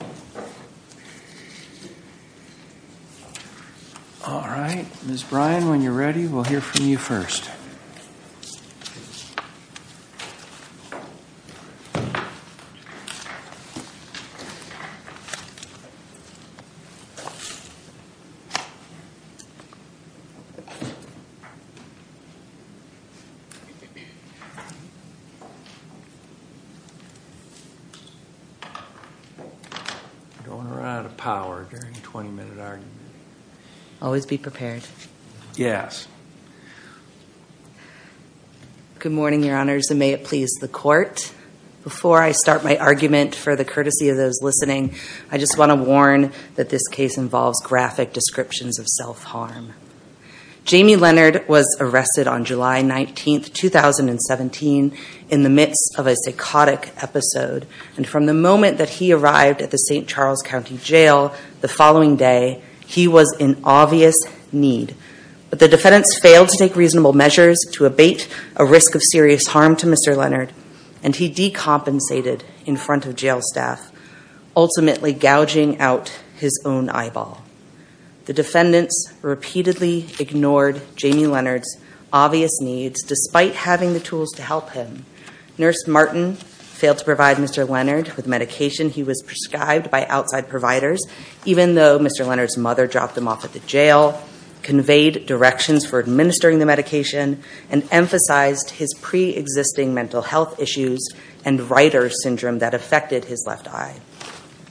All right, Ms. Bryan, when you're ready, we'll hear from you first. I don't want to run out of power during a 20-minute argument. Always be prepared. Yes. Good morning, your honors, and may it please the court. Before I start my argument, for the courtesy of those listening, I just want to warn that this case involves graphic descriptions of self-harm. Jamie Leonard was arrested on July 19, 2017, in the midst of a psychotic episode. And from the moment that he arrived at the St. Charles County Jail the following day, he was in obvious need. But the defendants failed to take reasonable measures to abate a risk of serious harm to Mr. Leonard, and he decompensated in front of jail staff, ultimately gouging out his own eyeball. The defendants repeatedly ignored Jamie Leonard's obvious needs, despite having the tools to help him. Nurse Martin failed to provide Mr. Leonard with medication he was prescribed by outside providers, even though Mr. Leonard's mother dropped him off at the jail, conveyed directions for administering the medication, and emphasized his pre-existing mental health issues and writer syndrome that affected his left eye.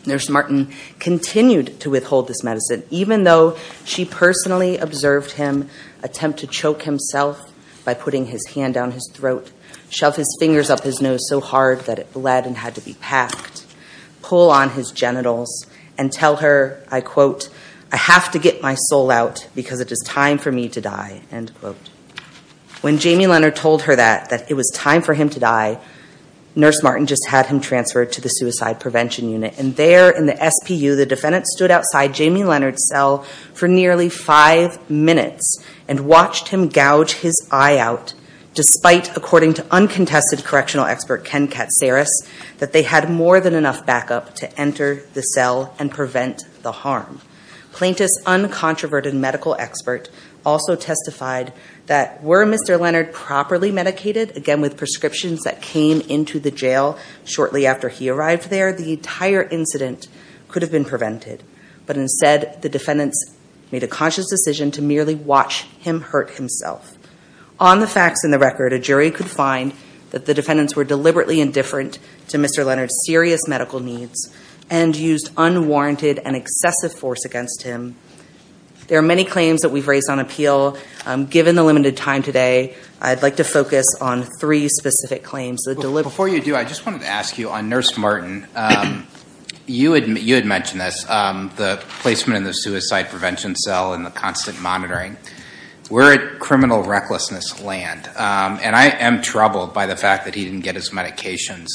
Nurse Martin continued to withhold this medicine, even though she personally observed him attempt to choke himself by putting his hand down his throat, shove his fingers up his nose so hard that it bled and had to be packed, pull on his genitals, and tell her, I quote, I have to get my soul out because it is time for me to die, end quote. When Jamie Leonard told her that, that it was time for him to die, Nurse Martin just had him transferred to the Suicide Prevention Unit. And there in the SPU, the defendants stood outside Jamie Leonard's cell for nearly five minutes and watched him gouge his eye out, despite, according to uncontested correctional expert Ken Katsaris, that they had more than enough backup to enter the cell and prevent the harm. Plaintiff's uncontroverted medical expert also testified that were Mr. Leonard properly medicated, again with prescriptions that came into the jail shortly after he arrived there, the entire incident could have been prevented. But instead, the defendants made a conscious decision to merely watch him hurt himself. On the facts in the record, a jury could find that the defendants were deliberately indifferent to Mr. Leonard's serious medical needs and used unwarranted and excessive force against him. There are many claims that we've raised on appeal. Given the limited time today, I'd like to focus on three specific claims. Before you do, I just wanted to ask you, on Nurse Martin, you had mentioned this, the placement in the suicide prevention cell and the constant monitoring. We're at criminal recklessness land, and I am troubled by the fact that he didn't get his medications,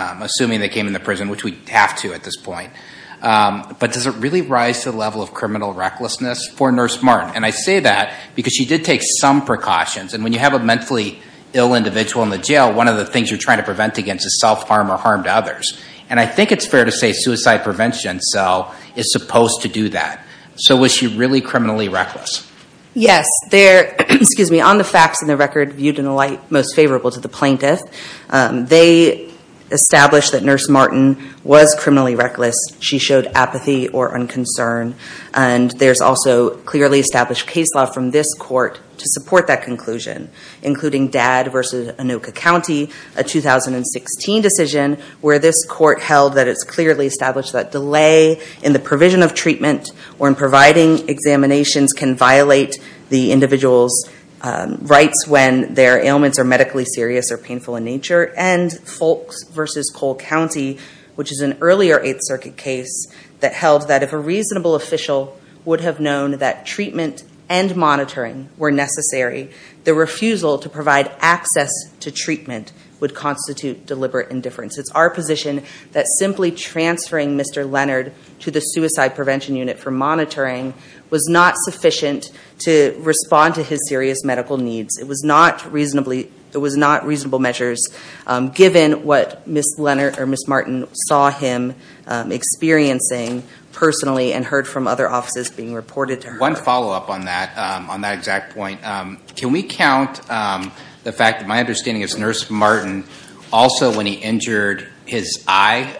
assuming they came in the prison, which we have to at this point. But does it really rise to the level of criminal recklessness for Nurse Martin? And I say that because she did take some precautions. And when you have a mentally ill individual in the jail, one of the things you're trying to prevent against is self-harm or harm to others. And I think it's fair to say suicide prevention cell is supposed to do that. So was she really criminally reckless? Yes. On the facts and the record viewed in the light most favorable to the plaintiff, they established that Nurse Martin was criminally reckless. She showed apathy or unconcern. And there's also clearly established case law from this court to support that conclusion, including Dad v. Anoka County, a 2016 decision where this court held that it's clearly established that delay in the provision of treatment or in providing examinations can violate the individual's rights when their ailments are medically serious or painful in nature. And Folks v. Cole County, which is an earlier Eighth Circuit case, that held that if a reasonable official would have known that treatment and monitoring were necessary, the refusal to provide access to treatment would constitute deliberate indifference. It's our position that simply transferring Mr. Leonard to the Suicide Prevention Unit for monitoring was not sufficient to respond to his serious medical needs. It was not reasonable measures given what Ms. Martin saw him experiencing personally and heard from other offices being reported to her. One follow-up on that exact point. Can we count the fact that my understanding is Nurse Martin also when he injured his eye,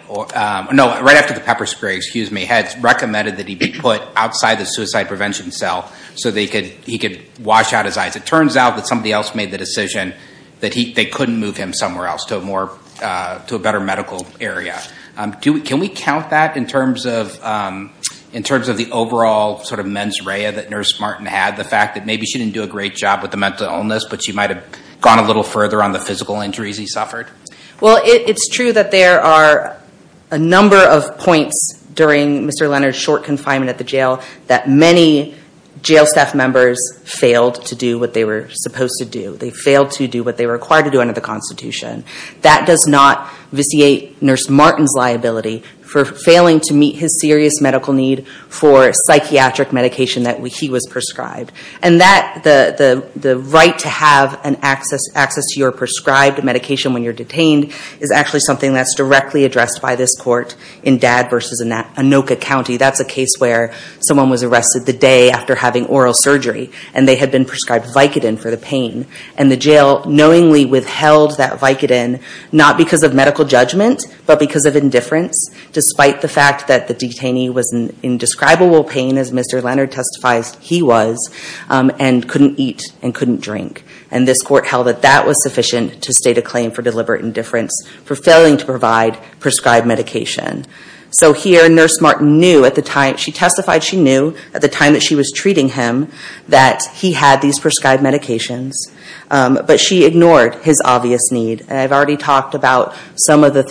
no, right after the pepper spray, excuse me, had recommended that he be put outside the Suicide Prevention Cell so that he could wash out his eyes. It turns out that somebody else made the decision that they couldn't move him somewhere else to a better medical area. Can we count that in terms of the overall sort of mens rea that Nurse Martin had, the fact that maybe she didn't do a great job with the mental illness, but she might have gone a little further on the physical injuries he suffered? Well, it's true that there are a number of points during Mr. Leonard's short confinement at the jail that many jail staff members failed to do what they were supposed to do. They failed to do what they were required to do under the Constitution. That does not vitiate Nurse Martin's liability for failing to meet his serious medical need for psychiatric medication that he was prescribed. And the right to have access to your prescribed medication when you're detained is actually something that's directly addressed by this court in Dad v. Anoka County. That's a case where someone was arrested the day after having oral surgery, and they had been prescribed Vicodin for the pain. And the jail knowingly withheld that Vicodin, not because of medical judgment, but because of indifference, despite the fact that the detainee was in indescribable pain, as Mr. Leonard testifies he was, and couldn't eat and couldn't drink. And this court held that that was sufficient to state a claim for deliberate indifference for failing to provide prescribed medication. So here, Nurse Martin knew at the time, she testified she knew, at the time that she was treating him, that he had these prescribed medications. But she ignored his obvious need. And I've already talked about some of the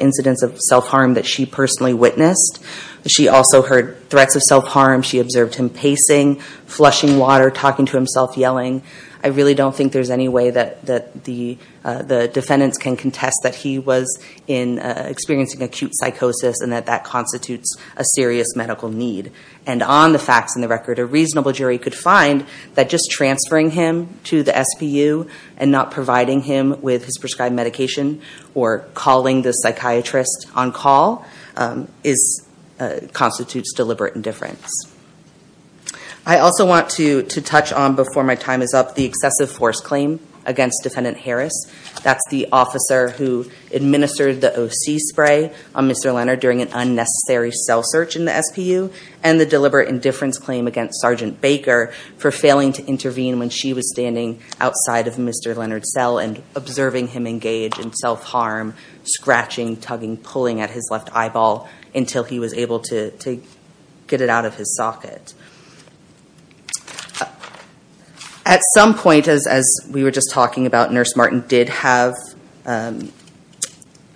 incidents of self-harm that she personally witnessed. She also heard threats of self-harm. She observed him pacing, flushing water, talking to himself, yelling. I really don't think there's any way that the defendants can contest that he was experiencing acute psychosis and that that constitutes a serious medical need. And on the facts and the record, a reasonable jury could find that just transferring him to the SPU and not providing him with his prescribed medication or calling the psychiatrist on call constitutes deliberate indifference. I also want to touch on, before my time is up, the excessive force claim against Defendant Harris. That's the officer who administered the OC spray on Mr. Leonard during an unnecessary cell search in the SPU, and the deliberate indifference claim against Sergeant Baker for failing to intervene when she was standing outside of Mr. Leonard's cell and observing him engage in self-harm, scratching, tugging, pulling at his left eyeball, until he was able to get it out of his socket. At some point, as we were just talking about, Nurse Martin did have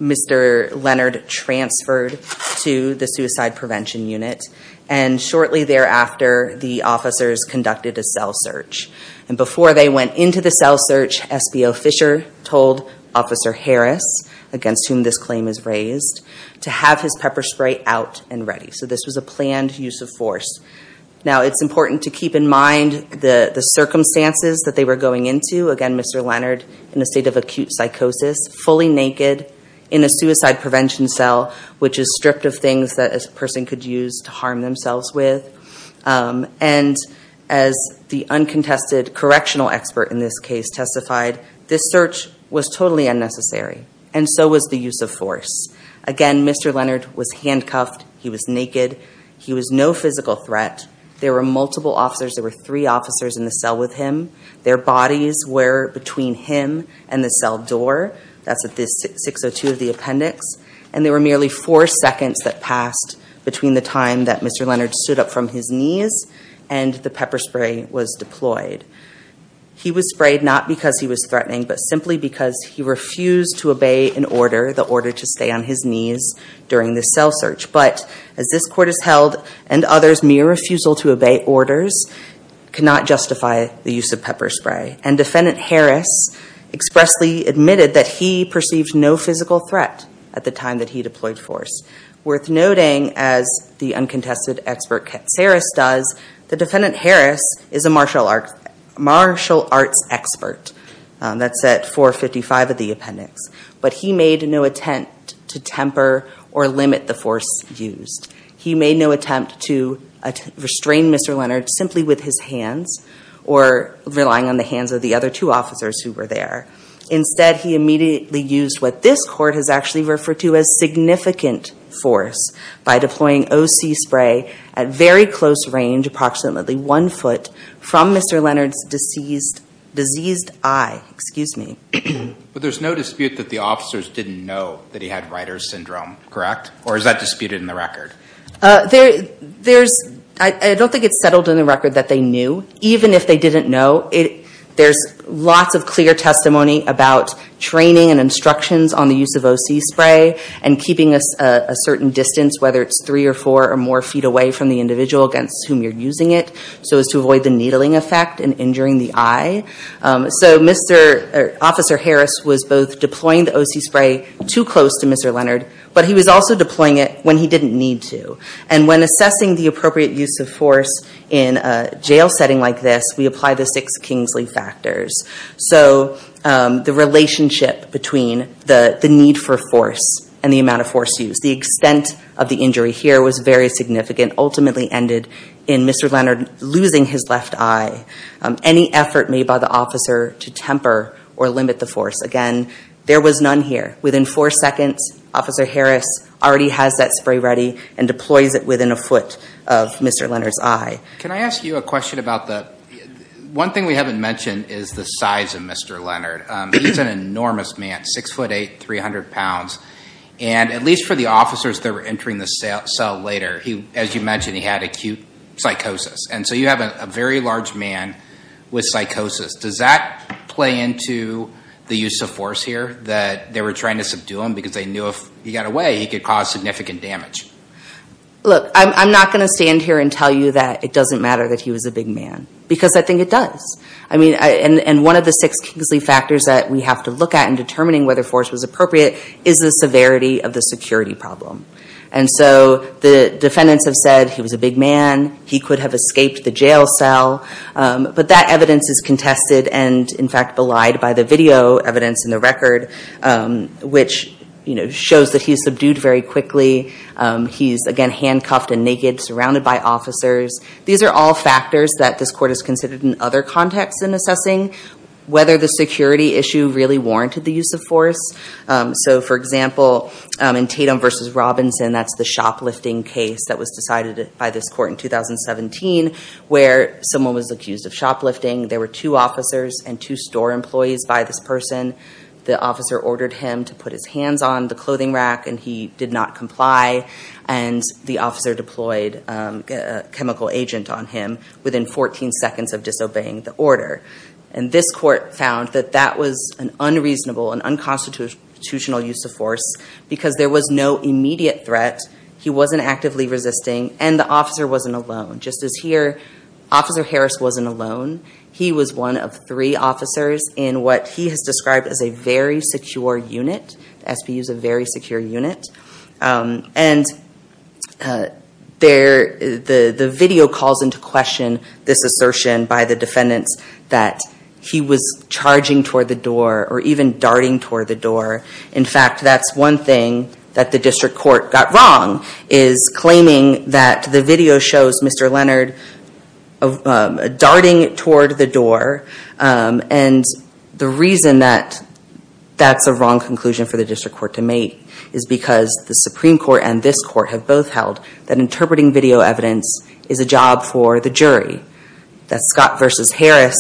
Mr. Leonard transferred to the Suicide Prevention Unit. And shortly thereafter, the officers conducted a cell search. And before they went into the cell search, SBO Fisher told Officer Harris, against whom this claim is raised, to have his pepper spray out and ready. So this was a planned use of force. Now, it's important to keep in mind the circumstances that they were going into. Again, Mr. Leonard in a state of acute psychosis, fully naked, in a suicide prevention cell, which is stripped of things that a person could use to harm themselves with. And as the uncontested correctional expert in this case testified, this search was totally unnecessary. And so was the use of force. Again, Mr. Leonard was handcuffed. He was naked. He was no physical threat. There were multiple officers. There were three officers in the cell with him. Their bodies were between him and the cell door. That's at 602 of the appendix. And there were merely four seconds that passed between the time that Mr. Leonard stood up from his knees and the pepper spray was deployed. He was sprayed not because he was threatening, but simply because he refused to obey an order, the order to stay on his knees during the cell search. But as this court has held, and others, mere refusal to obey orders cannot justify the use of pepper spray. And Defendant Harris expressly admitted that he perceived no physical threat at the time that he deployed force. Worth noting, as the uncontested expert Katsaris does, the defendant Harris is a martial arts expert. That's at 455 of the appendix. But he made no attempt to temper or limit the force used. He made no attempt to restrain Mr. Leonard simply with his hands or relying on the hands of the other two officers who were there. Instead, he immediately used what this court has actually referred to as significant force by deploying OC spray at very close range, approximately one foot, from Mr. Leonard's diseased eye. Excuse me. But there's no dispute that the officers didn't know that he had Reiter's syndrome, correct? Or is that disputed in the record? I don't think it's settled in the record that they knew, even if they didn't know. There's lots of clear testimony about training and instructions on the use of OC spray and keeping a certain distance, whether it's three or four or more feet away from the individual against whom you're using it, so as to avoid the needling effect and injuring the eye. So Officer Harris was both deploying the OC spray too close to Mr. Leonard, but he was also deploying it when he didn't need to. And when assessing the appropriate use of force in a jail setting like this, we apply the six Kingsley factors. So the relationship between the need for force and the amount of force used, the extent of the injury here was very significant, ultimately ended in Mr. Leonard losing his left eye. Any effort made by the officer to temper or limit the force, again, there was none here. Within four seconds, Officer Harris already has that spray ready and deploys it within a foot of Mr. Leonard's eye. Can I ask you a question about the – one thing we haven't mentioned is the size of Mr. Leonard. He's an enormous man, 6'8", 300 pounds. And at least for the officers that were entering the cell later, as you mentioned, he had acute psychosis. And so you have a very large man with psychosis. Does that play into the use of force here, that they were trying to subdue him because they knew if he got away, he could cause significant damage? Look, I'm not going to stand here and tell you that it doesn't matter that he was a big man, because I think it does. I mean, and one of the six Kingsley factors that we have to look at in determining whether force was appropriate is the severity of the security problem. And so the defendants have said he was a big man, he could have escaped the jail cell. But that evidence is contested and, in fact, belied by the video evidence in the record, which shows that he's subdued very quickly. He's, again, handcuffed and naked, surrounded by officers. These are all factors that this court has considered in other contexts in assessing whether the security issue really warranted the use of force. So, for example, in Tatum v. Robinson, that's the shoplifting case that was decided by this court in 2017, where someone was accused of shoplifting. There were two officers and two store employees by this person. The officer ordered him to put his hands on the clothing rack, and he did not comply. And the officer deployed a chemical agent on him within 14 seconds of disobeying the order. And this court found that that was an unreasonable and unconstitutional use of force because there was no immediate threat, he wasn't actively resisting, and the officer wasn't alone. Just as here, Officer Harris wasn't alone. He was one of three officers in what he has described as a very secure unit. The SPU is a very secure unit. And the video calls into question this assertion by the defendants that he was charging toward the door or even darting toward the door. In fact, that's one thing that the district court got wrong, is claiming that the video shows Mr. Leonard darting toward the door. And the reason that that's a wrong conclusion for the district court to make is because the Supreme Court and this court have both held that interpreting video evidence is a job for the jury. That's Scott v. Harris,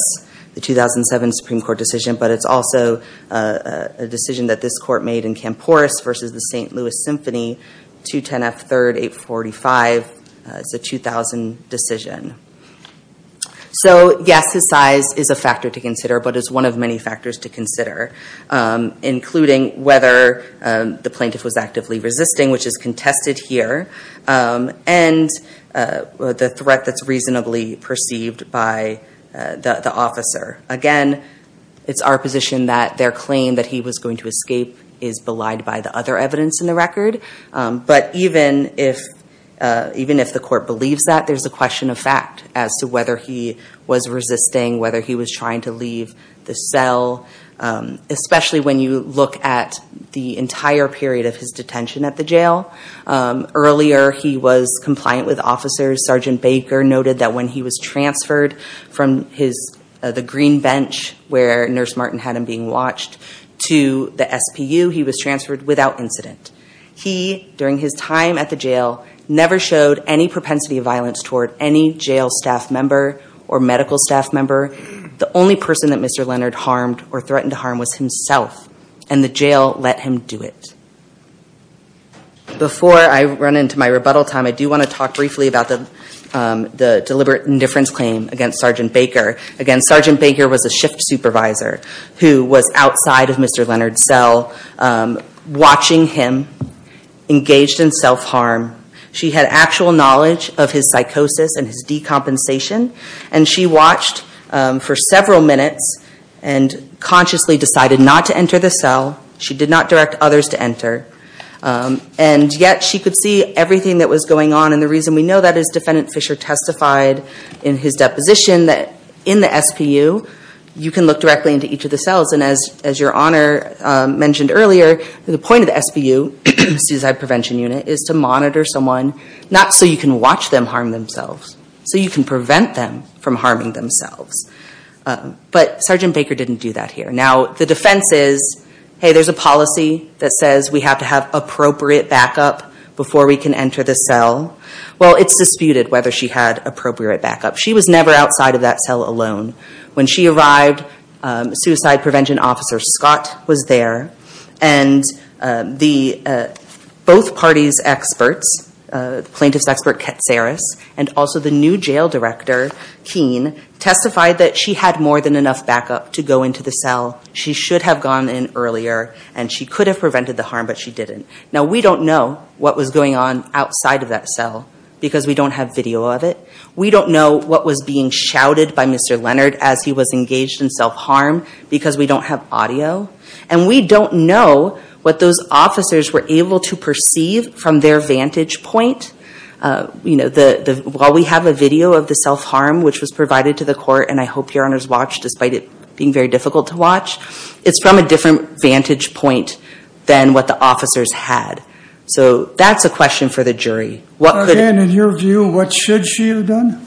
the 2007 Supreme Court decision, but it's also a decision that this court made in Camporris v. the St. Louis Symphony, 210 F. 3rd, 845. It's a 2000 decision. So yes, his size is a factor to consider, but it's one of many factors to consider, including whether the plaintiff was actively resisting, which is contested here, and the threat that's reasonably perceived by the officer. Again, it's our position that their claim that he was going to escape is belied by the other evidence in the record. But even if the court believes that, there's a question of fact as to whether he was resisting, whether he was trying to leave the cell, especially when you look at the entire period of his detention at the jail. Earlier, he was compliant with officers. Sergeant Baker noted that when he was transferred from the green bench where Nurse Martin had him being watched to the SPU, he was transferred without incident. He, during his time at the jail, never showed any propensity of violence toward any jail staff member or medical staff member. The only person that Mr. Leonard harmed or threatened to harm was himself, and the jail let him do it. Before I run into my rebuttal time, I do want to talk briefly about the deliberate indifference claim against Sergeant Baker. Again, Sergeant Baker was a shift supervisor who was outside of Mr. Leonard's cell watching him engaged in self-harm. She had actual knowledge of his psychosis and his decompensation, and she watched for several minutes and consciously decided not to enter the cell. She did not direct others to enter, and yet she could see everything that was going on, and the reason we know that is Defendant Fisher testified in his deposition that in the SPU, you can look directly into each of the cells, and as your Honor mentioned earlier, the point of the SPU, Suicide Prevention Unit, is to monitor someone, not so you can watch them harm themselves, so you can prevent them from harming themselves. But Sergeant Baker didn't do that here. Now, the defense is, hey, there's a policy that says we have to have appropriate backup before we can enter the cell. Well, it's disputed whether she had appropriate backup. She was never outside of that cell alone. When she arrived, Suicide Prevention Officer Scott was there, and both parties' experts, the plaintiff's expert, Katsaris, and also the new jail director, Keene, testified that she had more than enough backup to go into the cell. She should have gone in earlier, and she could have prevented the harm, but she didn't. Now, we don't know what was going on outside of that cell because we don't have video of it. We don't know what was being shouted by Mr. Leonard as he was engaged in self-harm because we don't have audio, and we don't know what those officers were able to perceive from their vantage point. You know, while we have a video of the self-harm which was provided to the court, and I hope your honors watch despite it being very difficult to watch, it's from a different vantage point than what the officers had. So that's a question for the jury. Again, in your view, what should she have done?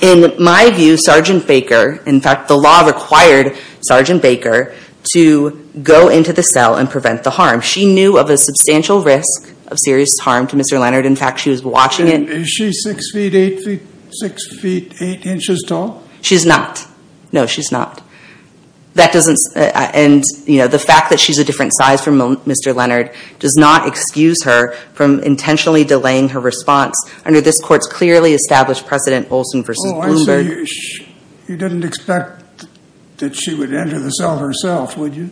In my view, Sergeant Baker, in fact, the law required Sergeant Baker to go into the cell and prevent the harm. She knew of a substantial risk of serious harm to Mr. Leonard. In fact, she was watching it. Is she 6 feet, 8 feet, 6 feet, 8 inches tall? She's not. No, she's not. And, you know, the fact that she's a different size from Mr. Leonard does not excuse her from intentionally delaying her response. Under this court's clearly established precedent, Olson v. Bloomberg. Oh, I see. You didn't expect that she would enter the cell herself, would you?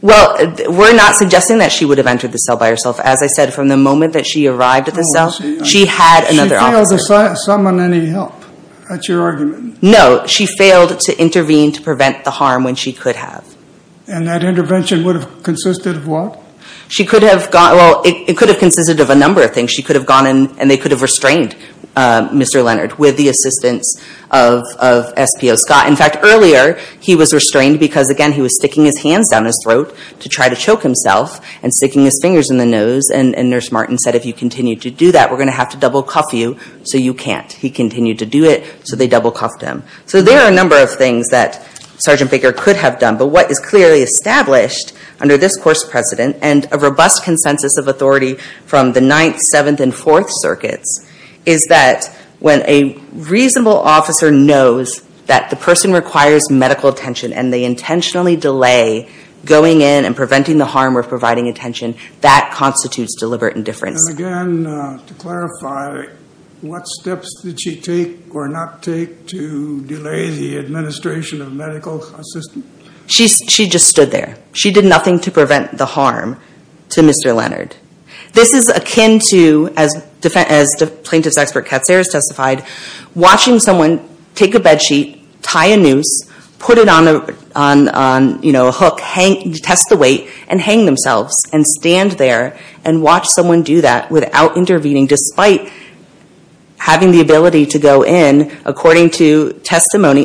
Well, we're not suggesting that she would have entered the cell by herself. As I said, from the moment that she arrived at the cell, she had another officer. She failed to summon any help. That's your argument. No, she failed to intervene to prevent the harm when she could have. And that intervention would have consisted of what? Well, it could have consisted of a number of things. She could have gone in, and they could have restrained Mr. Leonard with the assistance of SPO Scott. In fact, earlier, he was restrained because, again, he was sticking his hands down his throat to try to choke himself and sticking his fingers in the nose. And Nurse Martin said, if you continue to do that, we're going to have to double cuff you so you can't. He continued to do it, so they double cuffed him. So there are a number of things that Sergeant Baker could have done. But what is clearly established under this court's precedent, and a robust consensus of authority from the Ninth, Seventh, and Fourth Circuits, is that when a reasonable officer knows that the person requires medical attention and they intentionally delay going in and preventing the harm or providing attention, that constitutes deliberate indifference. And again, to clarify, what steps did she take or not take to delay the administration of medical assistance? She just stood there. She did nothing to prevent the harm to Mr. Leonard. This is akin to, as Plaintiff's Expert Katzer has testified, watching someone take a bed sheet, tie a noose, put it on a hook, test the weight, and hang themselves and stand there and watch someone do that without intervening, despite having the ability to go in according to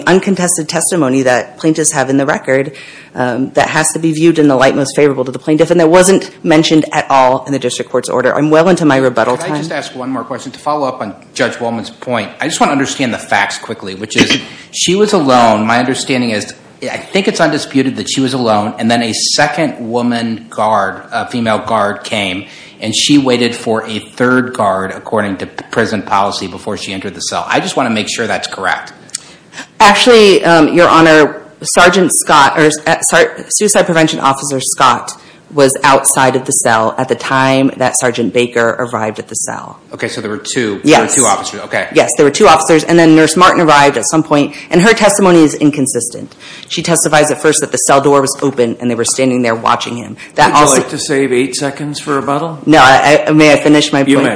uncontested testimony that plaintiffs have in the record that has to be viewed in the light most favorable to the plaintiff and that wasn't mentioned at all in the district court's order. I'm well into my rebuttal time. Can I just ask one more question to follow up on Judge Wolman's point? I just want to understand the facts quickly, which is she was alone. My understanding is I think it's undisputed that she was alone, and then a second woman guard, a female guard, came, and she waited for a third guard according to prison policy before she entered the cell. I just want to make sure that's correct. Actually, Your Honor, Suicide Prevention Officer Scott was outside of the cell at the time that Sergeant Baker arrived at the cell. Okay, so there were two officers. Yes, there were two officers, and then Nurse Martin arrived at some point, and her testimony is inconsistent. She testifies at first that the cell door was open and they were standing there watching him. Would you like to save eight seconds for rebuttal? No, may I finish my point? You may.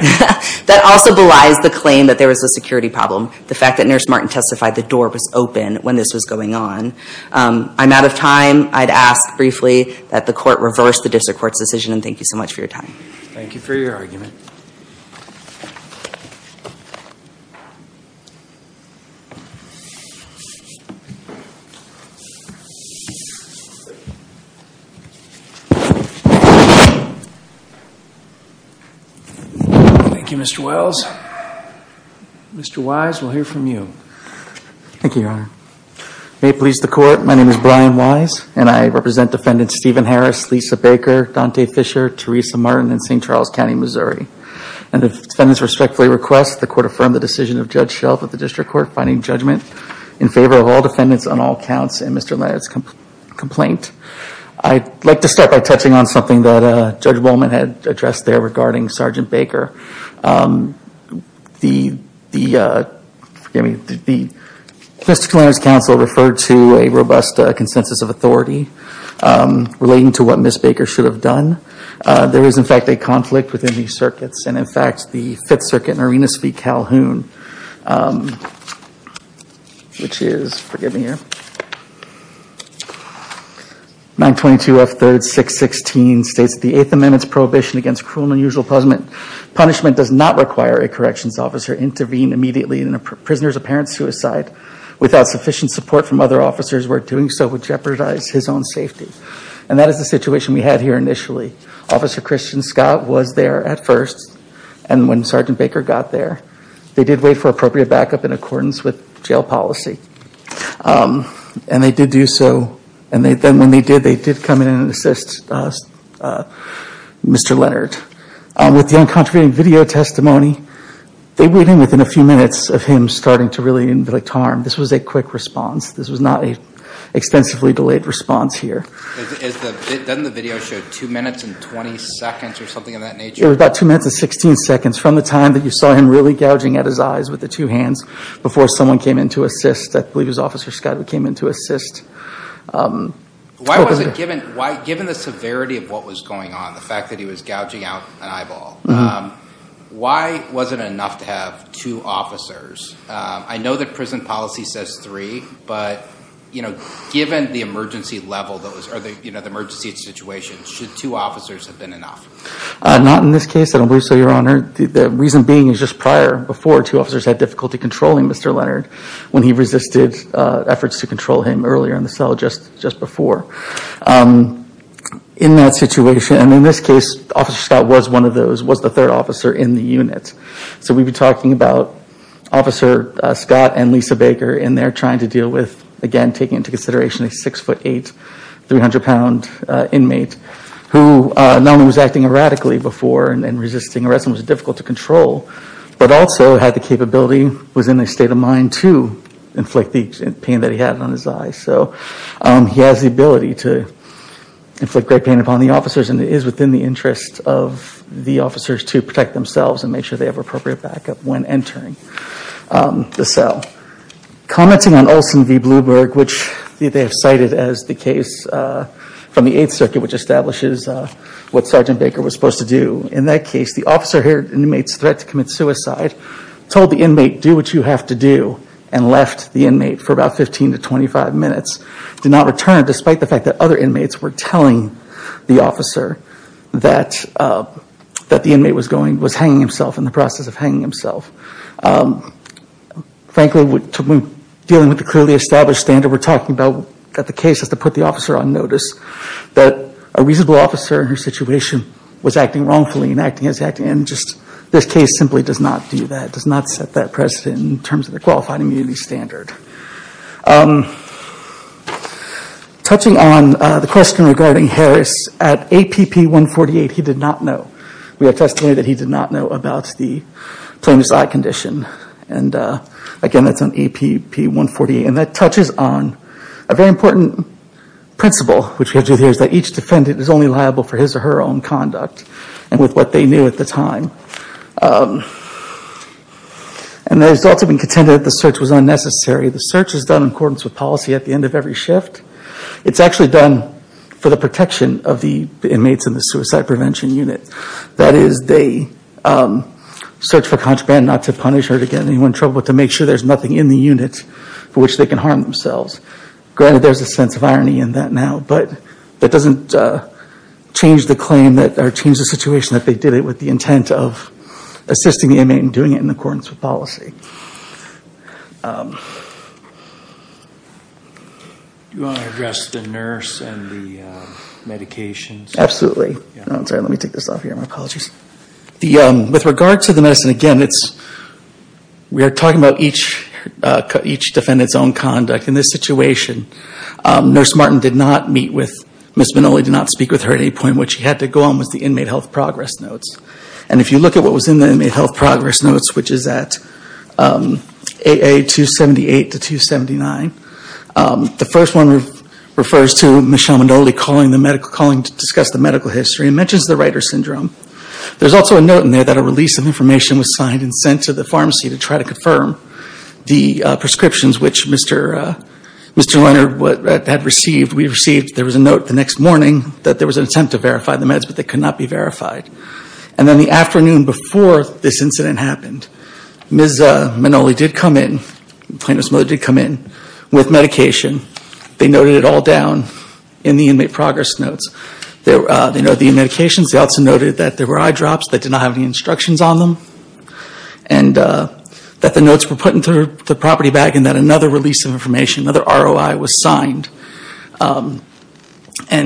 That also belies the claim that there was a security problem, the fact that Nurse Martin testified the door was open when this was going on. I'm out of time. I'd ask briefly that the court reverse the district court's decision, and thank you so much for your time. Thank you for your argument. Thank you, Mr. Wells. Mr. Wise, we'll hear from you. Thank you, Your Honor. May it please the court, my name is Brian Wise, and I represent Defendants Stephen Harris, Lisa Baker, Dante Fisher, Teresa Martin, and St. Charles County, Missouri. And if defendants respectfully request, the court affirm the decision of Judge Shelf of the district court finding judgment in favor of all defendants on all counts in Mr. Leonard's complaint. I'd like to start by touching on something that Judge Bowman had addressed there regarding Sergeant Baker. Mr. Leonard's counsel referred to a robust consensus of authority relating to what Ms. Baker should have done. There is, in fact, a conflict within these circuits, and in fact the Fifth Circuit in Arenas v. Calhoun, which is, forgive me here, 922F3-616 states that the Eighth Amendment's prohibition against cruel and unusual punishment does not require a corrections officer intervene immediately in a prisoner's apparent suicide without sufficient support from other officers, where doing so would jeopardize his own safety. And that is the situation we had here initially. Officer Christian Scott was there at first, and when Sergeant Baker got there, they did wait for appropriate backup in accordance with jail policy. And they did do so, and then when they did, they did come in and assist Mr. Leonard. With the uncontroverted video testimony, they went in within a few minutes of him starting to really inflict harm. This was a quick response. This was not an extensively delayed response here. Doesn't the video show two minutes and 20 seconds or something of that nature? It was about two minutes and 16 seconds from the time that you saw him really gouging at his eyes with the two hands before someone came in to assist. I believe it was Officer Scott who came in to assist. Given the severity of what was going on, the fact that he was gouging out an eyeball, why wasn't it enough to have two officers? I know that prison policy says three, but given the emergency situation, should two officers have been enough? Not in this case, I don't believe so, Your Honor. The reason being is just prior, before, two officers had difficulty controlling Mr. Leonard when he resisted efforts to control him earlier in the cell just before. In that situation, and in this case, Officer Scott was one of those, was the third officer in the unit. We've been talking about Officer Scott and Lisa Baker in there trying to deal with, again, taking into consideration a 6'8", 300-pound inmate who not only was acting erratically before and resisting arrest and was difficult to control, but also had the capability, was in a state of mind to inflict the pain that he had on his eyes. So he has the ability to inflict great pain upon the officers, and it is within the interest of the officers to protect themselves and make sure they have appropriate backup when entering the cell. Commenting on Olson v. Bloomberg, which they have cited as the case from the Eighth Circuit, which establishes what Sergeant Baker was supposed to do, in that case, the officer heard an inmate's threat to commit suicide, told the inmate, do what you have to do, and left the inmate for about 15 to 25 minutes. Did not return, despite the fact that other inmates were telling the officer that the inmate was hanging himself, in the process of hanging himself. Frankly, dealing with the clearly established standard we're talking about, that the case is to put the officer on notice, that a reasonable officer in her situation was acting wrongfully, and this case simply does not do that, does not set that precedent in terms of the qualified immunity standard. Touching on the question regarding Harris, at APP 148, he did not know. We attest here that he did not know about the plain suicide condition. Again, that's on APP 148, and that touches on a very important principle, which we have to adhere to, that each defendant is only liable for his or her own conduct, and with what they knew at the time. The results have been contended that the search was unnecessary. The search is done in accordance with policy at the end of every shift. It's actually done for the protection of the inmates in the suicide prevention unit. That is, they search for contraband, not to punish or to get anyone in trouble, but to make sure there's nothing in the unit for which they can harm themselves. Granted, there's a sense of irony in that now, but that doesn't change the situation that they did it with the intent of assisting the inmate and doing it in accordance with policy. Do you want to address the nurse and the medications? Absolutely. I'm sorry, let me take this off here. My apologies. With regard to the medicine, again, we are talking about each defendant's own conduct. In this situation, Nurse Martin did not meet with Ms. Manoli, did not speak with her at any point. What she had to go on was the inmate health progress notes, and if you look at what was in the inmate health progress notes, which is at AA 278 to 279, the first one refers to Michelle Manoli calling to discuss the medical history and mentions the writer's syndrome. There's also a note in there that a release of information was signed and sent to the pharmacy to try to confirm the prescriptions which Mr. Leuner had received. There was a note the next morning that there was an attempt to verify the meds, but they could not be verified. Then the afternoon before this incident happened, Ms. Manoli did come in, the plaintiff's mother did come in with medication. They noted it all down in the inmate progress notes. They noted the medications. They also noted that there were eye drops that did not have any instructions on them and that the notes were put into the property bag and that another release of information, another ROI was signed and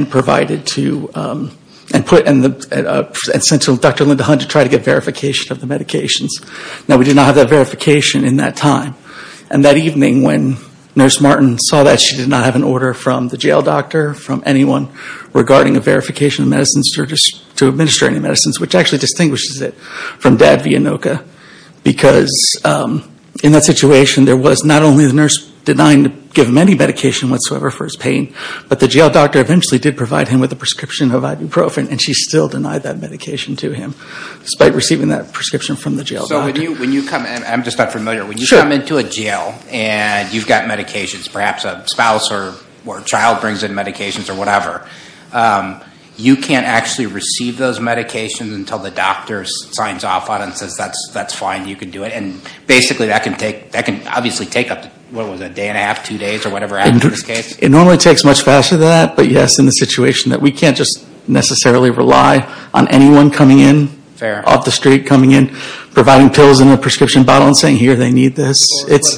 provided to and sent to Dr. Linda Hunt to try to get verification of the medications. Now we did not have that verification in that time, and that evening when Nurse Martin saw that she did not have an order from the jail doctor, from anyone regarding a verification of medicines to administer any medicines, which actually distinguishes it from Dad Vianoka, because in that situation there was not only the nurse denying to give him any medication whatsoever for his pain, but the jail doctor eventually did provide him with a prescription of ibuprofen and she still denied that medication to him despite receiving that prescription from the jail doctor. I'm just not familiar. When you come into a jail and you've got medications, perhaps a spouse or child brings in medications or whatever, you can't actually receive those medications until the doctor signs off on it and says, that's fine, you can do it. Basically that can obviously take up to a day and a half, two days or whatever after this case. It normally takes much faster than that, but yes, in the situation that we can't just necessarily rely on anyone coming in, off the street coming in, providing pills in a prescription bottle and saying, here, they need this. This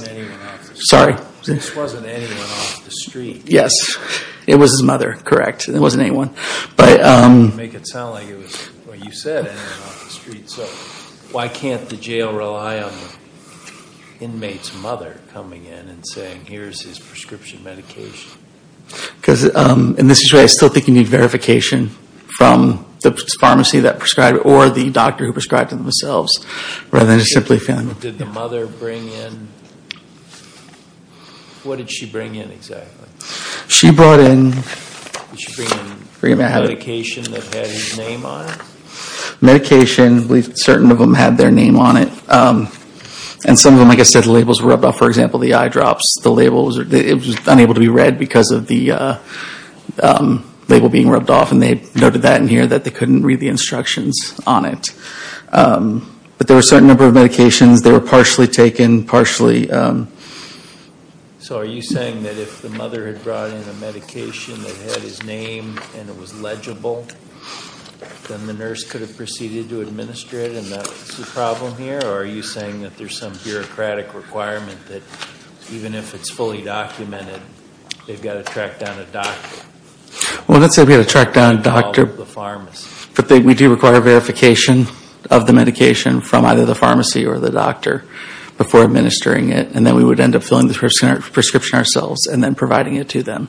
wasn't anyone off the street. Yes. It was his mother, correct. It wasn't anyone. I didn't want to make it sound like it was what you said, anyone off the street. So why can't the jail rely on the inmate's mother coming in and saying, here's his prescription medication? Because in this situation I still think you need verification from the pharmacy that prescribed it or the doctor who prescribed it themselves, rather than just simply family. Did the mother bring in? What did she bring in exactly? She brought in. Did she bring in medication that had his name on it? Medication, certain of them had their name on it. And some of them, like I said, the labels were rubbed off. For example, the eye drops, it was unable to be read because of the label being rubbed off. And they noted that in here, that they couldn't read the instructions on it. But there were a certain number of medications. They were partially taken, partially. So are you saying that if the mother had brought in a medication that had his name and it was legible, then the nurse could have proceeded to administer it and that's the problem here? Or are you saying that there's some bureaucratic requirement that even if it's fully documented, they've got to track down a doctor? Well, let's say we've got to track down a doctor. But we do require verification of the medication from either the pharmacy or the doctor before administering it. And then we would end up filling the prescription ourselves and then providing it to them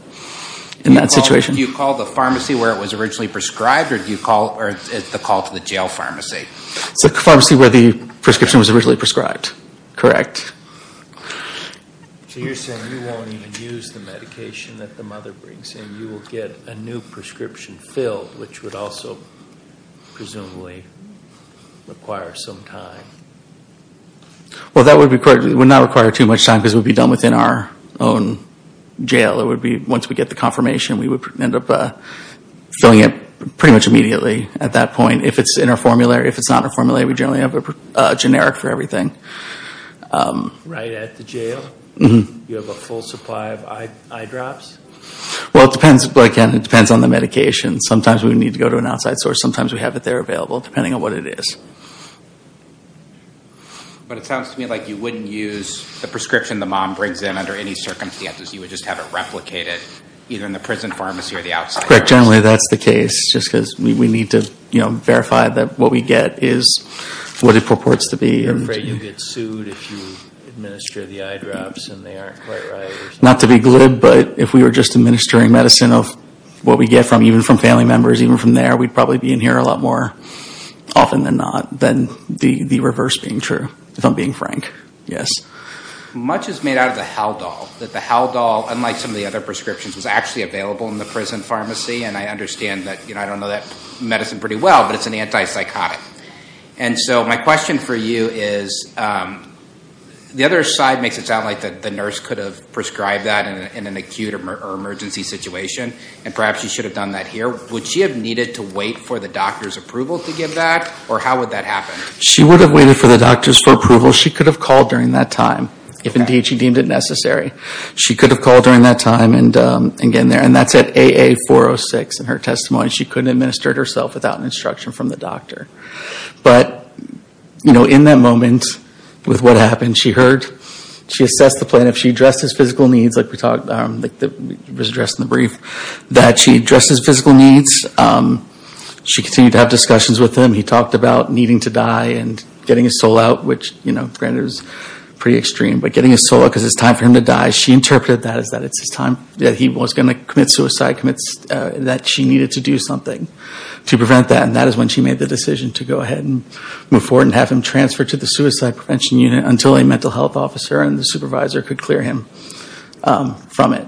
in that situation. Do you call the pharmacy where it was originally prescribed or is it the call to the jail pharmacy? It's the pharmacy where the prescription was originally prescribed. Correct. So you're saying you won't even use the medication that the mother brings in. You will get a new prescription filled, which would also presumably require some time. Well, that would not require too much time because it would be done within our own jail. Once we get the confirmation, we would end up filling it pretty much immediately at that point. If it's in our formulary, if it's not in our formulary, we generally have a generic for everything. Right at the jail? You have a full supply of eye drops? Well, again, it depends on the medication. Sometimes we would need to go to an outside source. Sometimes we have it there available, depending on what it is. But it sounds to me like you wouldn't use the prescription the mom brings in under any circumstances. You would just have it replicated either in the prison pharmacy or the outside. Correct. Generally, that's the case. Just because we need to verify that what we get is what it purports to be. You're afraid you'll get sued if you administer the eye drops and they aren't quite right. Not to be glib, but if we were just administering medicine of what we get from, even from family members, even from there, we'd probably be in here a lot more often than not than the reverse being true, if I'm being frank. Much is made out of the Haldol. The Haldol, unlike some of the other prescriptions, is actually available in the prison pharmacy. I understand that. I don't know that medicine pretty well, but it's an antipsychotic. My question for you is, the other side makes it sound like the nurse could have prescribed that in an acute or emergency situation, and perhaps you should have done that here. Would she have needed to wait for the doctor's approval to give that, or how would that happen? She would have waited for the doctor's approval. She could have called during that time, if indeed she deemed it necessary. She could have called during that time and gotten there. And that's at AA406 in her testimony. She couldn't administer it herself without an instruction from the doctor. But, you know, in that moment, with what happened, she heard, she assessed the plaintiff, she addressed his physical needs, like we talked about, like it was addressed in the brief, that she addressed his physical needs. She continued to have discussions with him. He talked about needing to die and getting his soul out, which, you know, granted is pretty extreme, but getting his soul out because it's time for him to die. She interpreted that as that it's his time, that he was going to commit suicide, that she needed to do something to prevent that. And that is when she made the decision to go ahead and move forward and have him transferred to the Suicide Prevention Unit until a mental health officer and the supervisor could clear him from it.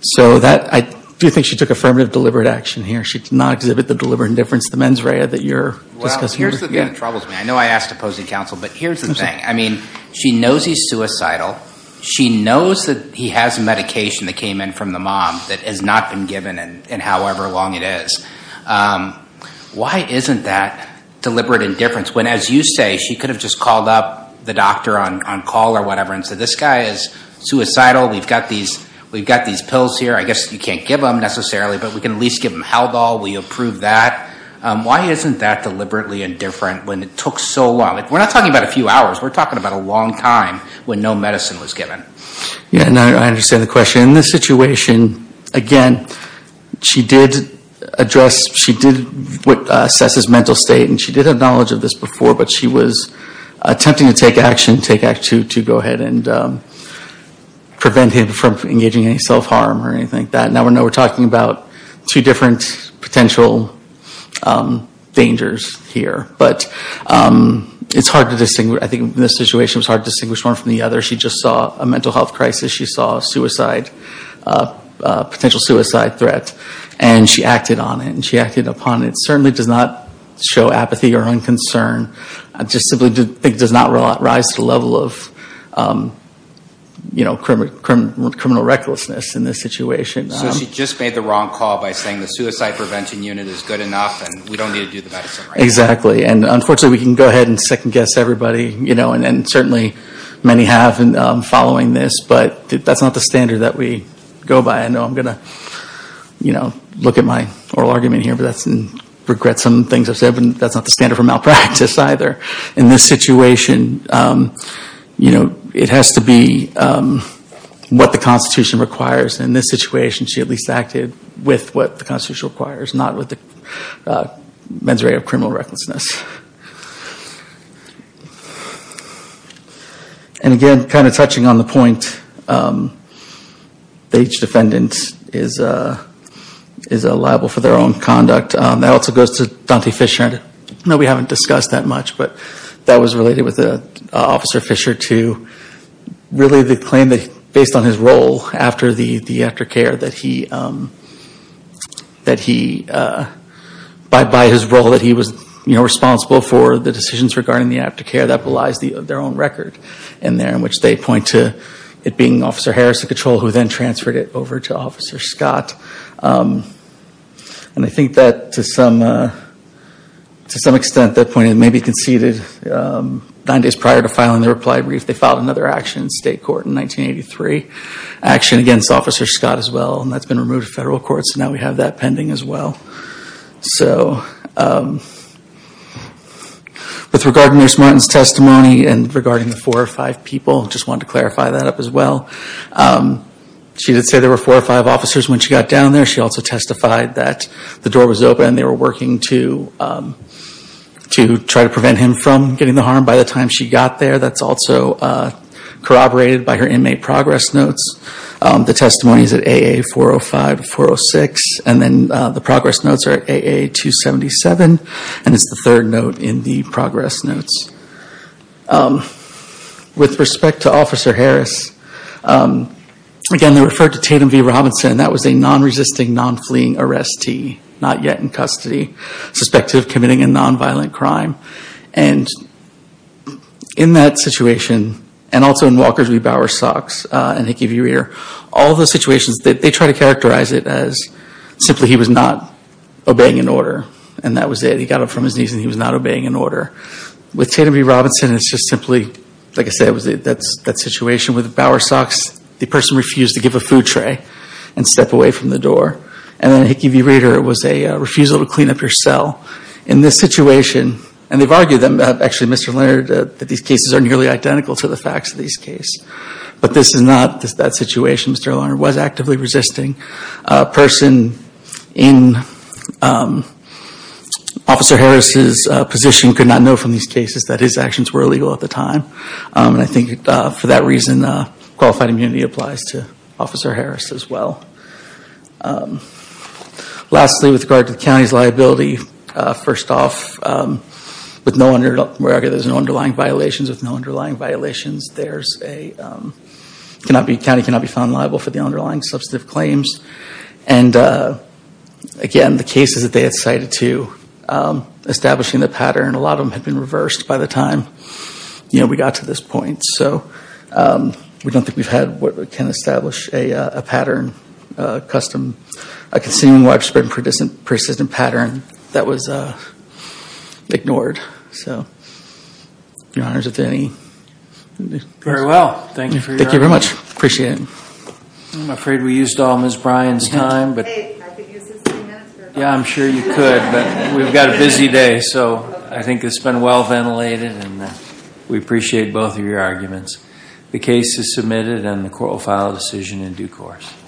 So I do think she took affirmative deliberate action here. She did not exhibit the deliberate indifference to the mens rea that you're discussing here. Well, here's the thing that troubles me. I know I asked opposing counsel, but here's the thing. I mean, she knows he's suicidal. She knows that he has medication that came in from the mom that has not been given in however long it is. Why isn't that deliberate indifference when, as you say, she could have just called up the doctor on call or whatever and said, this guy is suicidal, we've got these pills here, I guess you can't give them necessarily, but we can at least give him Haldol, will you approve that? Why isn't that deliberately indifferent when it took so long? We're not talking about a few hours. We're talking about a long time when no medicine was given. Yeah, and I understand the question. In this situation, again, she did assess his mental state, and she did have knowledge of this before, but she was attempting to take action to go ahead and prevent him from engaging in any self-harm or anything like that. Now we know we're talking about two different potential dangers here, but I think in this situation it was hard to distinguish one from the other. She just saw a mental health crisis. She saw a potential suicide threat, and she acted on it, and she acted upon it. It certainly does not show apathy or unconcern. I just simply think it does not rise to the level of criminal recklessness in this situation. So she just made the wrong call by saying the suicide prevention unit is good enough and we don't need to do the medicine right now. Exactly, and unfortunately we can go ahead and second-guess everybody, and certainly many have following this, but that's not the standard that we go by. I know I'm going to look at my oral argument here, but that's in regret some things I've said, but that's not the standard for malpractice either. In this situation, it has to be what the Constitution requires. In this situation, she at least acted with what the Constitution requires, not with the mens rea of criminal recklessness. And again, kind of touching on the point that each defendant is liable for their own conduct, that also goes to Dante Fisher. I know we haven't discussed that much, but that was related with Officer Fisher too. Really the claim that based on his role after the aftercare, by his role that he was responsible for the decisions regarding the aftercare, that belies their own record in there in which they point to it being Officer Harris who then transferred it over to Officer Scott. And I think that to some extent that point may be conceded. Nine days prior to filing the reply brief, they filed another action in state court in 1983. Action against Officer Scott as well, and that's been removed from federal court, so now we have that pending as well. With regard to Nurse Martin's testimony and regarding the four or five people, I just wanted to clarify that up as well. She did say there were four or five officers when she got down there. She also testified that the door was open. They were working to try to prevent him from getting the harm by the time she got there. That's also corroborated by her inmate progress notes. The testimony is at AA 405-406, and then the progress notes are at AA 277, and it's the third note in the progress notes. With respect to Officer Harris, again, they referred to Tatum V. Robinson. That was a non-resisting, non-fleeing arrestee, not yet in custody, suspected of committing a non-violent crime. And in that situation, and also in Walkers v. Bowersox and Hickey v. Rear, all those situations, they try to characterize it as simply he was not obeying an order, and that was it. He got up from his knees and he was not obeying an order. With Tatum V. Robinson, it's just simply, like I said, that situation with Bowersox, the person refused to give a food tray and step away from the door. And in Hickey v. Rear, it was a refusal to clean up your cell. In this situation, and they've argued, actually, Mr. Leonard, that these cases are nearly identical to the facts of these cases, but this is not that situation. Mr. Leonard was actively resisting. A person in Officer Harris's position could not know from these cases that his actions were illegal at the time. And I think for that reason, qualified immunity applies to Officer Harris as well. Lastly, with regard to the county's liability, first off, with no underlying violations, there's a county cannot be found liable for the underlying substantive claims. And again, the cases that they had cited to establishing the pattern, a lot of them had been reversed by the time. You know, we got to this point. So we don't think we've had what can establish a pattern, a custom, a consuming widespread and persistent pattern that was ignored. So, Your Honors, if there are any questions. Very well. Thank you for your time. Thank you very much. I appreciate it. I'm afraid we used all Ms. Bryan's time. Hey, I could use this three minutes. Yeah, I'm sure you could. But we've got a busy day, so I think it's been well-ventilated and we appreciate both of your arguments. The case is submitted and the court will file a decision in due course.